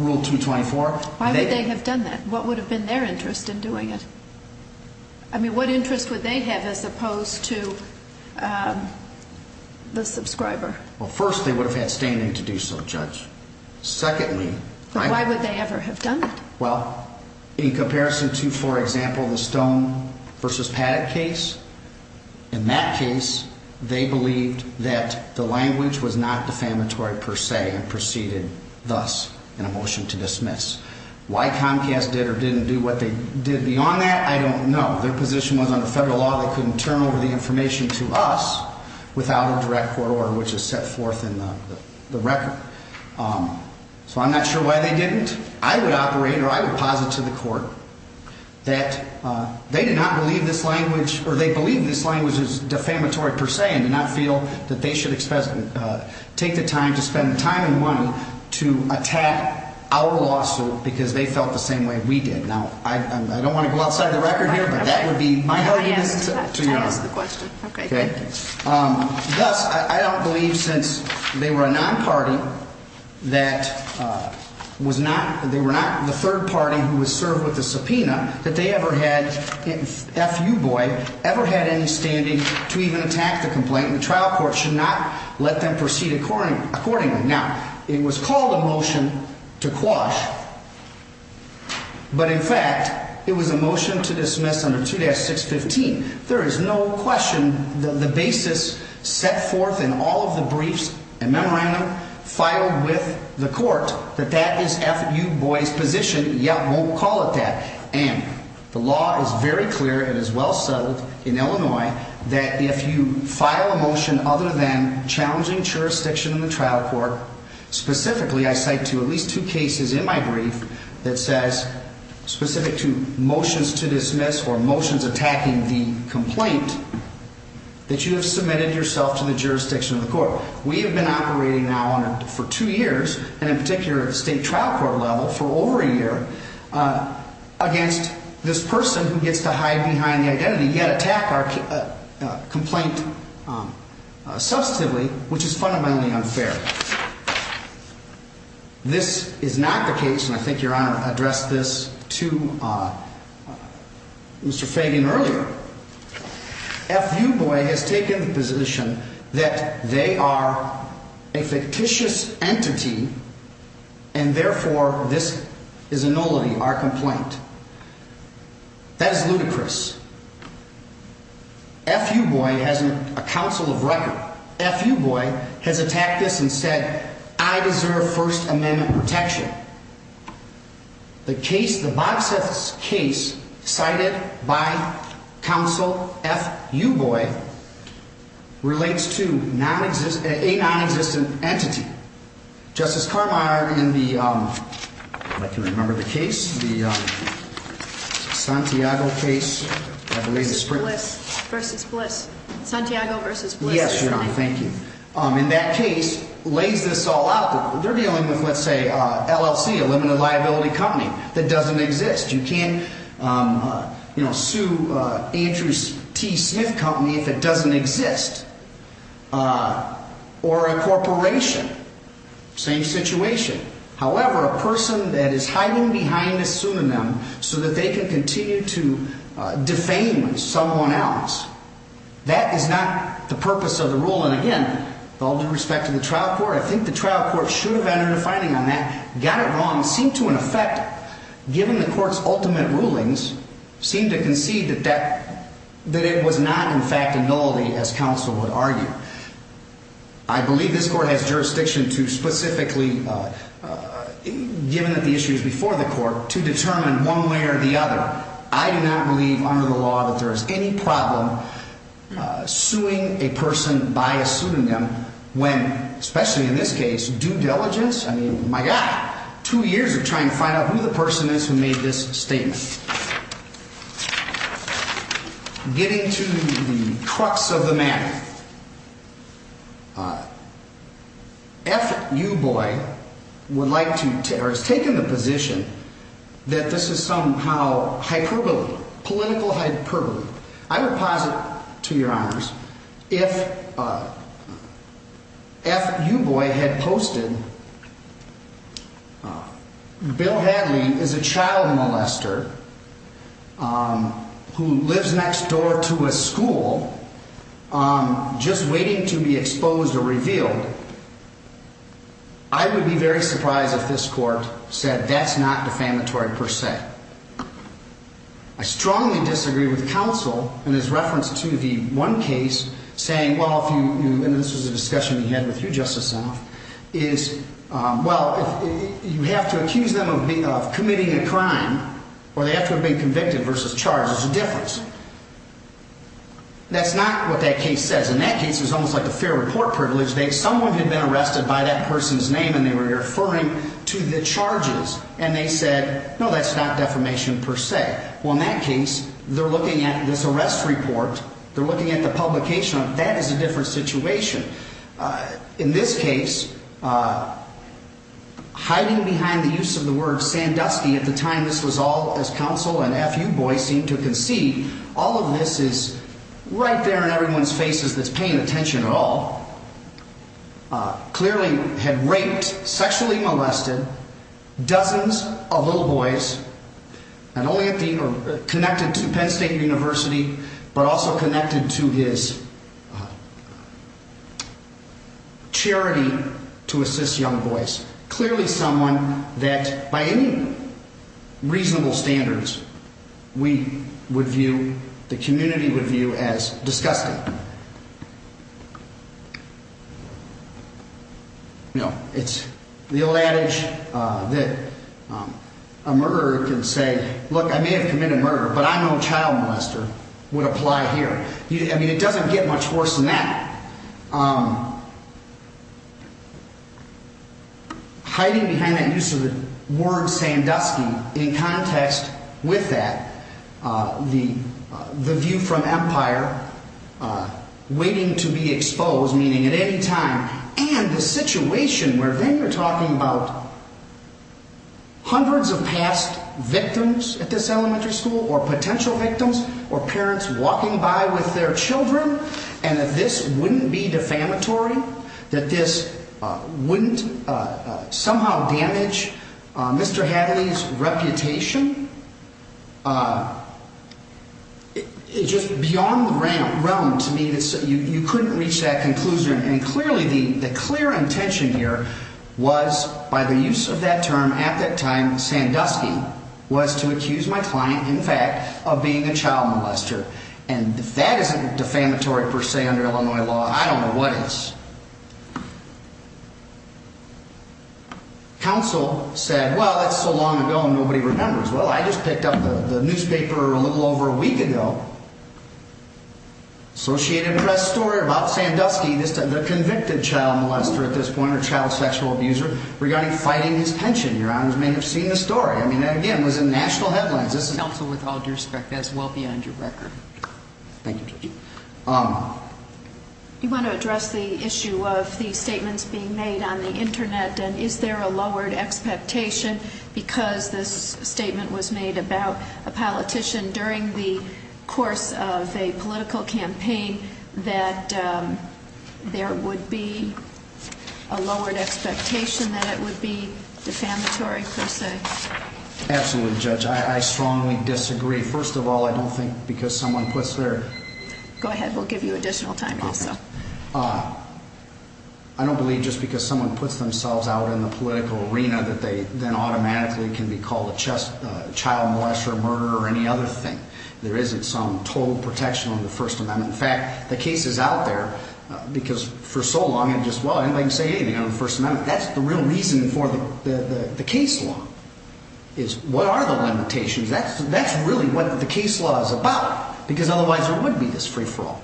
Rule 224. Why would they have done that? What would have been their interest in doing it? I mean, what interest would they have as opposed to the subscriber? Well, first, they would have had standing to do so, Judge. Secondly, Why would they ever have done it? Well, in comparison to, for example, the Stone v. Paddock case, in that case, they believed that the language was not defamatory per se and proceeded thus in a motion to dismiss. Why Comcast did or didn't do what they did beyond that, I don't know. Their position was under federal law. They couldn't turn over the information to us without a direct court order, which is set forth in the record. So I'm not sure why they didn't. I would operate or I would posit to the court that they did not believe this language or they believe this language is defamatory per se and did not feel that they should take the time to spend time and money to attack our lawsuit because they felt the same way we did. Now, I don't want to go outside the record here, but that would be my argument to your honor. I ask the question. Okay. Thus, I don't believe since they were a non-party that was not they were not the third party who was served with the subpoena that they ever had. If you boy ever had any standing to even attack the complaint, the trial court should not let them proceed according accordingly. Now, it was called a motion to quash. But in fact, it was a motion to dismiss under 2-615. There is no question that the basis set forth in all of the briefs and memorandum filed with the court that that is F.U. Boy's position. Yet won't call it that. And the law is very clear and is well settled in Illinois that if you file a motion other than challenging jurisdiction in the trial court, specifically I cite to at least two cases in my brief that says specific to motions to dismiss or motions attacking the complaint that you have submitted yourself to the jurisdiction of the court. We have been operating now for two years and in particular state trial court level for over a year against this person who gets to hide behind the identity yet attack our complaint substantively, which is fundamentally unfair. This is not the case, and I think your Honor addressed this to Mr. Fagan earlier. F.U. Boy has taken the position that they are a fictitious entity and therefore this is a nullity, our complaint. That is ludicrous. F.U. Boy has a counsel of record. F.U. Boy has attacked us and said I deserve First Amendment protection. The case, the boxes case cited by counsel F.U. Boy relates to non-existent a non-existent entity. Justice Carmeier in the, if I can remember the case, the Santiago case. Versus Bliss. Versus Bliss. Santiago versus Bliss. Yes, Your Honor. Thank you. In that case lays this all out. They're dealing with let's say LLC, a limited liability company that doesn't exist. You can't sue Andrew T. Smith Company if it doesn't exist. Or a corporation. Same situation. However, a person that is hiding behind a pseudonym so that they can continue to defame someone else. That is not the purpose of the rule. And again, with all due respect to the trial court, I think the trial court should have entered a finding on that. Got it wrong. Seem to in effect, given the court's ultimate rulings, seem to concede that it was not in fact a nullity as counsel would argue. I believe this court has jurisdiction to specifically, given that the issue is before the court, to determine one way or the other. I do not believe under the law that there is any problem suing a person by a pseudonym when, especially in this case, due diligence. I mean, my God, two years of trying to find out who the person is who made this statement. Getting to the crux of the matter. F.U. Boyd would like to or has taken the position that this is somehow hyperbole, political hyperbole. I would posit to your honors, if F.U. Boyd had posted Bill Hadley is a child molester who lives next door to a school just waiting to be exposed or revealed. I would be very surprised if this court said that's not defamatory per se. I strongly disagree with counsel in his reference to the one case saying, well, if you knew, and this was a discussion we had with you, Justice South, is, well, you have to accuse them of committing a crime or they have to have been convicted versus charged. There's a difference. That's not what that case says. In that case, it was almost like a fair report privilege. Someone had been arrested by that person's name and they were referring to the charges. And they said, no, that's not defamation per se. Well, in that case, they're looking at this arrest report. They're looking at the publication. That is a different situation. In this case, hiding behind the use of the word Sandusky at the time this was all, as counsel and F.U. Boyd seemed to concede, all of this is right there in everyone's faces that's paying attention at all. Clearly had raped, sexually molested dozens of little boys and only connected to Penn State University, but also connected to his charity to assist young boys. Clearly someone that by any reasonable standards we would view, the community would view as disgusting. You know, it's the old adage that a murderer can say, look, I may have committed murder, but I know child molester would apply here. I mean, it doesn't get much worse than that. Hiding behind that use of the word Sandusky in context with that, the view from Empire, waiting to be exposed, meaning at any time, and the situation where then you're talking about hundreds of past victims at this elementary school or potential victims or parents walking by with their children and that this wouldn't be defamatory, that this wouldn't somehow damage Mr. Hadley's reputation. It's just beyond the realm to me that you couldn't reach that conclusion. And clearly the clear intention here was by the use of that term at that time, Sandusky, was to accuse my client, in fact, of being a child molester. And if that isn't defamatory per se under Illinois law, I don't know what is. Counsel said, well, that's so long ago and nobody remembers. Well, I just picked up the newspaper a little over a week ago. Associated Press story about Sandusky, the convicted child molester at this point, or child sexual abuser, regarding fighting his pension. Your Honors may have seen the story. I mean, again, it was in national headlines. Counsel, with all due respect, that's well beyond your record. Thank you, Judge. You want to address the issue of the statements being made on the Internet, and is there a lowered expectation because this statement was made about a politician during the course of a political campaign that there would be a lowered expectation that it would be defamatory per se? Absolutely, Judge. I strongly disagree. First of all, I don't think because someone puts their Go ahead. We'll give you additional time also. I don't believe just because someone puts themselves out in the political arena that they then automatically can be called a child molester, murderer, or any other thing. There isn't some total protection on the First Amendment. In fact, the case is out there because for so long it just, well, anybody can say anything on the First Amendment. That's the real reason for the case law is what are the limitations? That's really what the case law is about because otherwise there wouldn't be this free-for-all.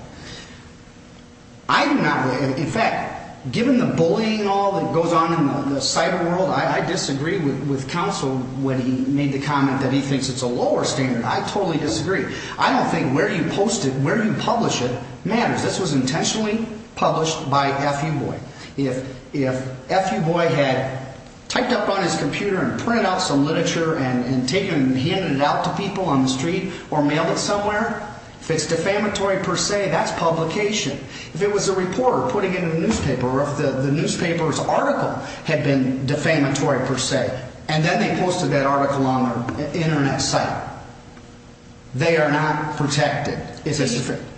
In fact, given the bullying and all that goes on in the cyber world, I disagree with counsel when he made the comment that he thinks it's a lower standard. I totally disagree. I don't think where you post it, where you publish it matters. This was intentionally published by F.U. Boyd. If F.U. Boyd had typed up on his computer and printed out some literature and handed it out to people on the street or mailed it somewhere, if it's defamatory per se, that's publication. If it was a reporter putting it in a newspaper or if the newspaper's article had been defamatory per se and then they posted that article on their Internet site, they are not protected.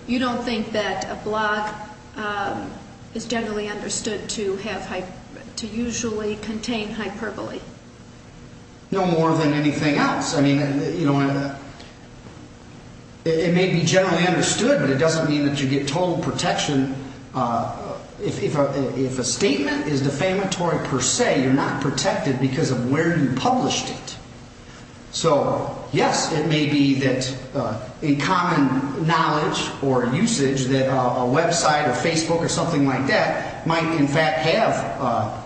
You don't think that a blog is generally understood to usually contain hyperbole? No more than anything else. I mean, it may be generally understood, but it doesn't mean that you get total protection. If a statement is defamatory per se, you're not protected because of where you published it. So, yes, it may be that a common knowledge or usage that a website or Facebook or something like that might in fact have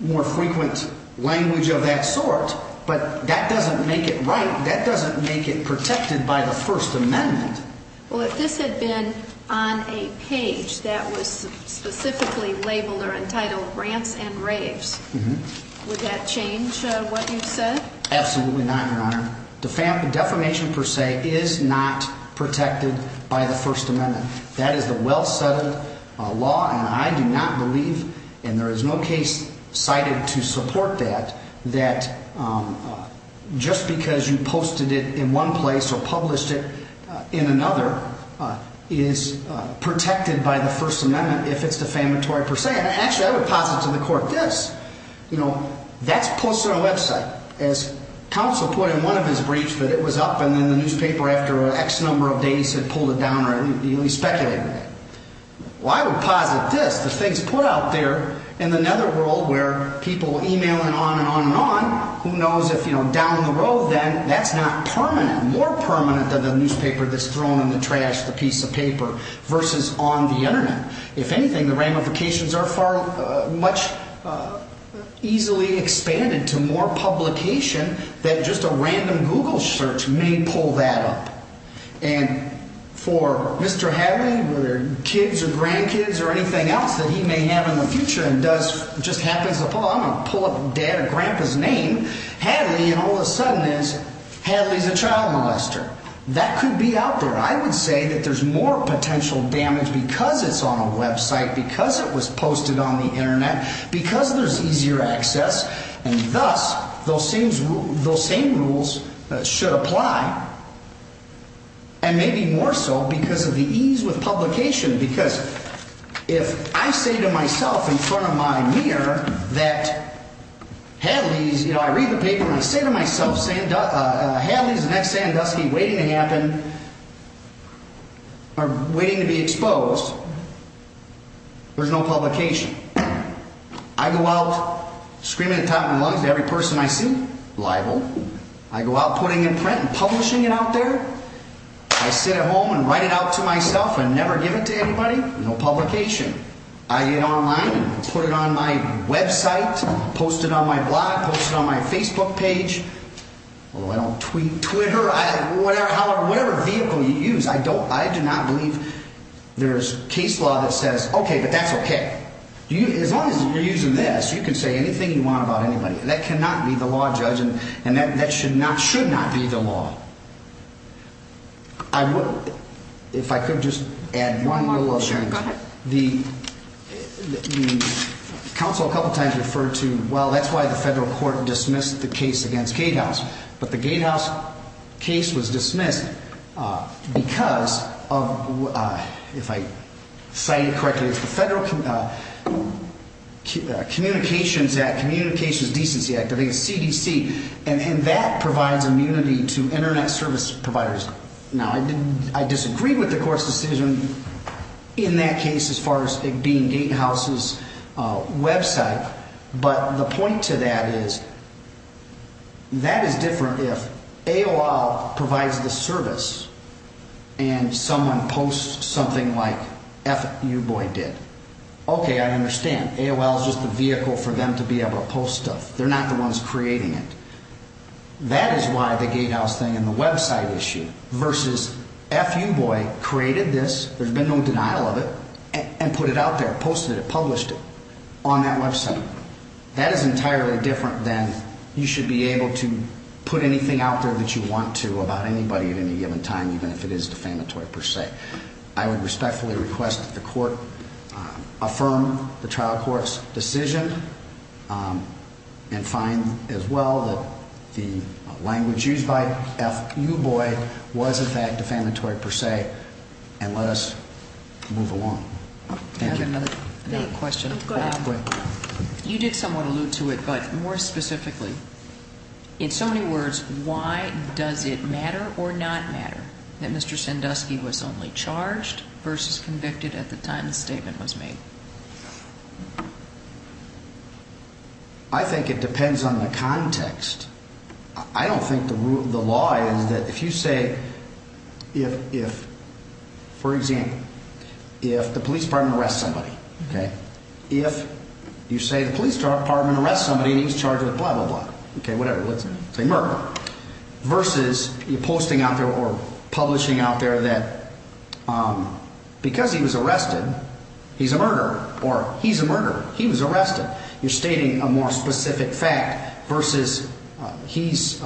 more frequent language of that sort, but that doesn't make it right. That doesn't make it protected by the First Amendment. Well, if this had been on a page that was specifically labeled or entitled rants and raves, would that change what you said? Absolutely not, Your Honor. Defamation per se is not protected by the First Amendment. That is the well-settled law, and I do not believe, and there is no case cited to support that, that just because you posted it in one place or published it in another is protected by the First Amendment if it's defamatory per se. Actually, I would posit to the Court this. You know, that's posted on a website. As counsel put in one of his briefs that it was up and then the newspaper, after an X number of days, had pulled it down, or at least speculated that. Well, I would posit this. The things put out there in the netherworld where people are emailing on and on and on, who knows if, you know, down the road then, that's not permanent, more permanent than the newspaper that's thrown in the trash, the piece of paper, versus on the Internet. If anything, the ramifications are far much easily expanded to more publication that just a random Google search may pull that up. And for Mr. Hadley, whether kids or grandkids or anything else that he may have in the future and does, just happens upon, I'm going to pull up dad or grandpa's name, Hadley, and all of a sudden is Hadley's a child molester. That could be out there. I would say that there's more potential damage because it's on a website, because it was posted on the Internet, because there's easier access, and thus those same rules should apply. And maybe more so because of the ease with publication, because if I say to myself in front of my mirror that Hadley's, you know, I read the paper and I say to myself, Hadley's the next Sandusky waiting to happen, or waiting to be exposed, there's no publication. I go out screaming at the top of my lungs to every person I see, libel. I go out putting it in print and publishing it out there. I sit at home and write it out to myself and never give it to anybody, no publication. I get online and put it on my website, post it on my blog, post it on my Facebook page, although I don't tweet, Twitter, whatever vehicle you use, I do not believe there's case law that says, okay, but that's okay. As long as you're using this, you can say anything you want about anybody. That cannot be the law, judge, and that should not be the law. I would, if I could just add one rule of the council a couple of times referred to, well, that's why the federal court dismissed the case against gatehouse, but the gatehouse case was dismissed because of, if I say it correctly, it's the Federal Communications Act, Communications Decency Act, I think it's CDC. And that provides immunity to internet service providers. Now, I disagree with the court's decision in that case as far as it being gatehouse's website, but the point to that is that is different if AOL provides the service and someone posts something like F you boy did. Okay, I understand. AOL is just a vehicle for them to be able to post stuff. They're not the ones creating it. That is why the gatehouse thing and the website issue versus F you boy created this, there's been no denial of it, and put it out there, posted it, published it on that website. That is entirely different than you should be able to put anything out there that you want to about anybody at any given time, even if it is defamatory per se. I would respectfully request that the court affirm the trial court's decision and find as well that the language used by F you boy was in fact defamatory per se and let us move along. I have another question. You did somewhat allude to it, but more specifically, in so many words, why does it matter or not matter that Mr. Sandusky was only charged versus convicted at the time the statement was made? I think it depends on the context. I don't think the law is that if you say, for example, if the police department arrests somebody, okay, if you say the police department arrests somebody and he's charged with blah, blah, blah, okay, whatever, let's say murder, versus you're posting out there or publishing out there that because he was arrested, he's a murderer or he's a murderer. He was arrested. You're stating a more specific fact versus he's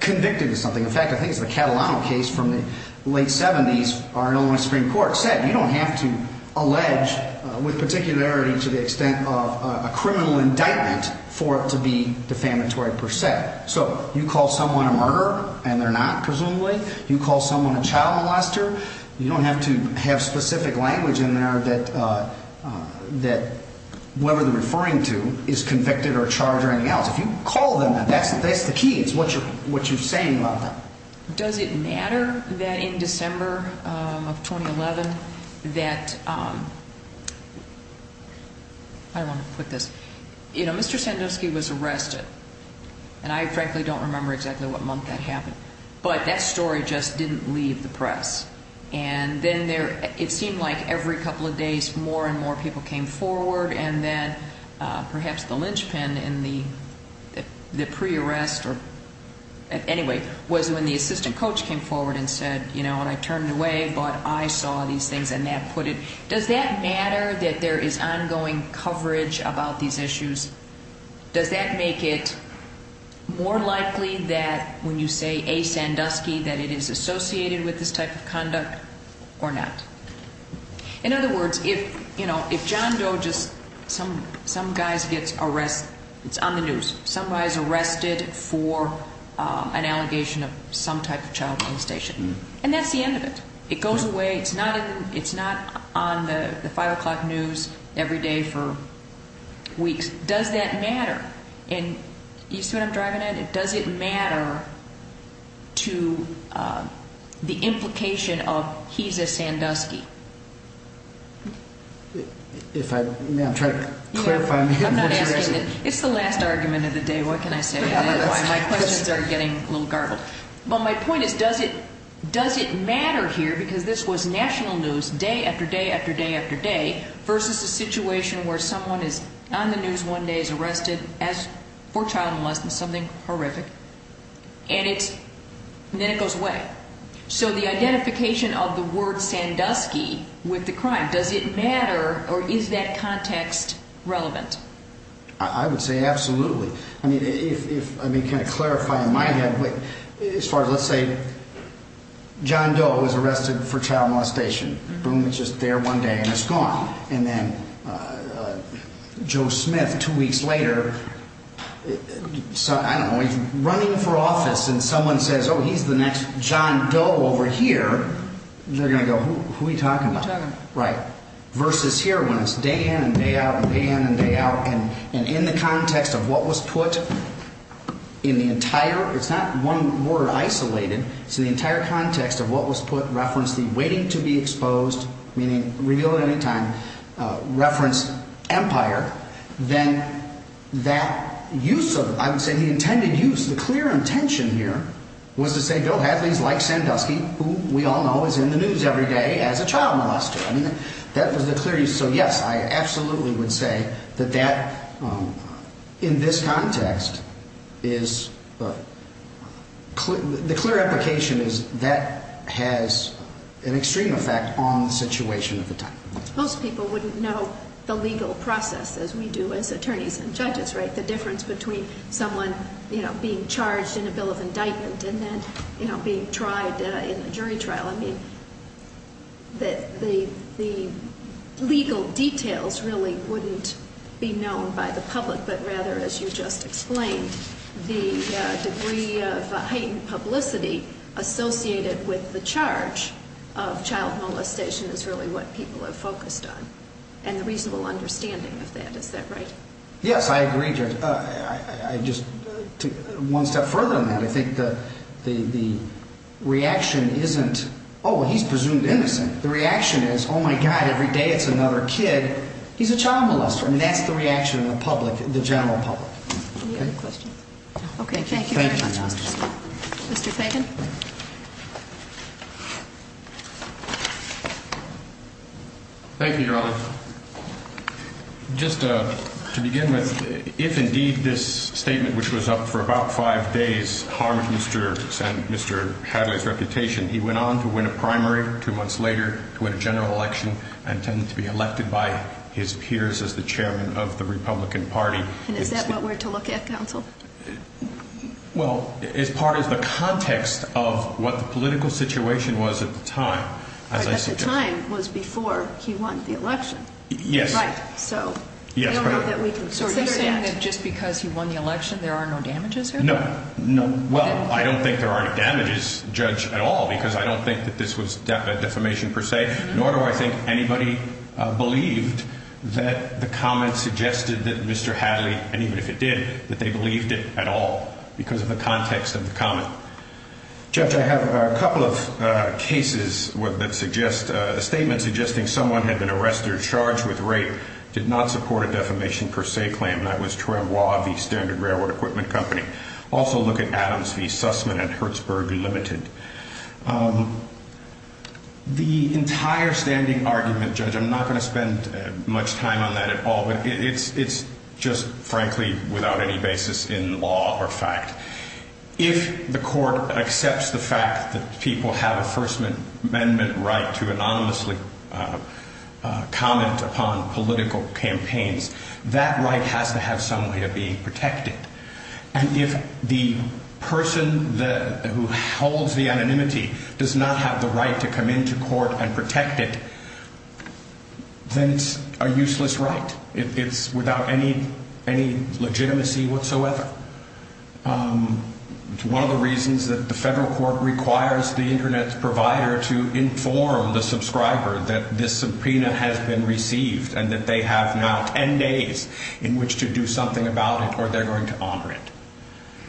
convicted of something. In fact, I think it's the Catalano case from the late 70s or Illinois Supreme Court said you don't have to allege with particularity to the extent of a criminal indictment for it to be defamatory per se. So you call someone a murderer and they're not, presumably. You call someone a child molester. You don't have to have specific language in there that whoever they're referring to is convicted or charged or anything else. If you call them, that's the key. It's what you're saying about them. Does it matter that in December of 2011 that, I want to put this, you know, Mr. Sandusky was arrested. And I frankly don't remember exactly what month that happened. But that story just didn't leave the press. And then there, it seemed like every couple of days more and more people came forward. And then perhaps the linchpin in the pre-arrest or, anyway, was when the assistant coach came forward and said, you know, and I turned away but I saw these things and that put it. Does that matter that there is ongoing coverage about these issues? Does that make it more likely that when you say a Sandusky that it is associated with this type of conduct or not? In other words, if, you know, if John Doe just, some guys gets arrested, it's on the news. Some guys arrested for an allegation of some type of child molestation. And that's the end of it. It goes away. It's not on the 5 o'clock news every day for weeks. Does that matter? And you see what I'm driving at? Does it matter to the implication of he's a Sandusky? It's the last argument of the day. What can I say? My questions are getting a little garbled. But my point is, does it matter here because this was national news day after day after day after day versus a situation where someone is on the news one day is arrested for child molestation, something horrific. And then it goes away. So the identification of the word Sandusky with the crime, does it matter or is that context relevant? I would say absolutely. I mean, if, I mean, can I clarify in my head, as far as let's say John Doe was arrested for child molestation, boom, it's just there one day and it's gone. And then Joe Smith, two weeks later, I don't know, he's running for office and someone says, oh, he's the next John Doe over here. They're going to go, who are you talking about? Right. Versus here when it's day in and day out and day in and day out and in the context of what was put in the entire, it's not one word isolated, it's in the entire context of what was put, referenced the waiting to be exposed, meaning reveal at any time, referenced empire, then that use of, I would say the intended use, the clear intention here was to say Bill Hadley is like Sandusky, who we all know is in the news every day as a child molester. That was the clear use. So yes, I absolutely would say that that in this context is the clear application is that has an extreme effect on the situation at the time. Most people wouldn't know the legal process as we do as attorneys and judges, right? The difference between someone, you know, being charged in a bill of indictment and then, you know, being tried in a jury trial. The legal details really wouldn't be known by the public, but rather, as you just explained, the degree of heightened publicity associated with the charge of child molestation is really what people are focused on and the reasonable understanding of that. Is that right? Yes, I agree. I just took one step further than that. I think that the reaction isn't, oh, well, he's presumed innocent. The reaction is, oh, my God, every day it's another kid. He's a child molester. And that's the reaction of the public, the general public. Any other questions? Okay. Thank you very much, Mr. Scott. Mr. Fagan. Thank you, Your Honor. Just to begin with, if indeed this statement, which was up for about five days, harmed Mr. Hadley's reputation, he went on to win a primary two months later to win a general election and tended to be elected by his peers as the chairman of the Republican Party. And is that what we're to look at, counsel? Well, as part of the context of what the political situation was at the time, as I said... But at the time was before he won the election. Yes. Right. So I don't know that we can sort through that. So are you saying that just because he won the election, there are no damages here? No. Well, I don't think there are any damages, Judge, at all, because I don't think that this was defamation per se, nor do I think anybody believed that the comment suggested that Mr. Hadley, and even if it did, that they believed it at all because of the context of the comment. Judge, I have a couple of cases that suggest, a statement suggesting someone had been arrested, charged with rape, did not support a defamation per se claim. That was Trembois v. Standard Railroad Equipment Company. Also look at Adams v. Sussman at Hertzberg Limited. The entire standing argument, Judge, I'm not going to spend much time on that at all, but it's just frankly without any basis in law or fact. If the court accepts the fact that people have a First Amendment right to anonymously comment upon political campaigns, that right has to have some way of being protected. And if the person who holds the anonymity does not have the right to come into court and protect it, then it's a useless right. It's without any legitimacy whatsoever. It's one of the reasons that the federal court requires the Internet provider to inform the subscriber that this subpoena has been received and that they have now ten days in which to do something about it or they're going to honor it.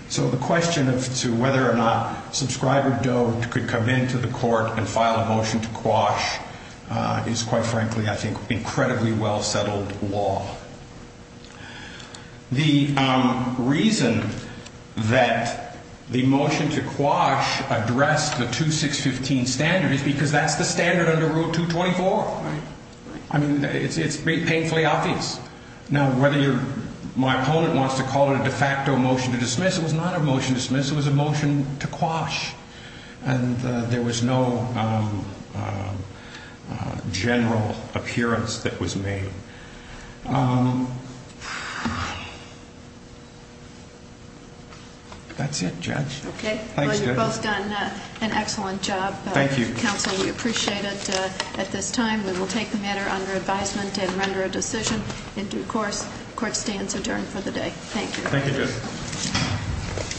So the question as to whether or not subscriber Doe could come into the court and file a motion to quash is quite frankly, I think, incredibly well settled law. The reason that the motion to quash addressed the 2615 standard is because that's the standard under Rule 224. I mean, it's painfully obvious. Now, whether my opponent wants to call it a de facto motion to dismiss, it was not a motion to dismiss. It was a motion to quash. And there was no general appearance that was made. That's it, Judge. Okay. Well, you've both done an excellent job. Thank you. Counsel, we appreciate it at this time. We will take the matter under advisement and render a decision in due course. Court stands adjourned for the day. Thank you.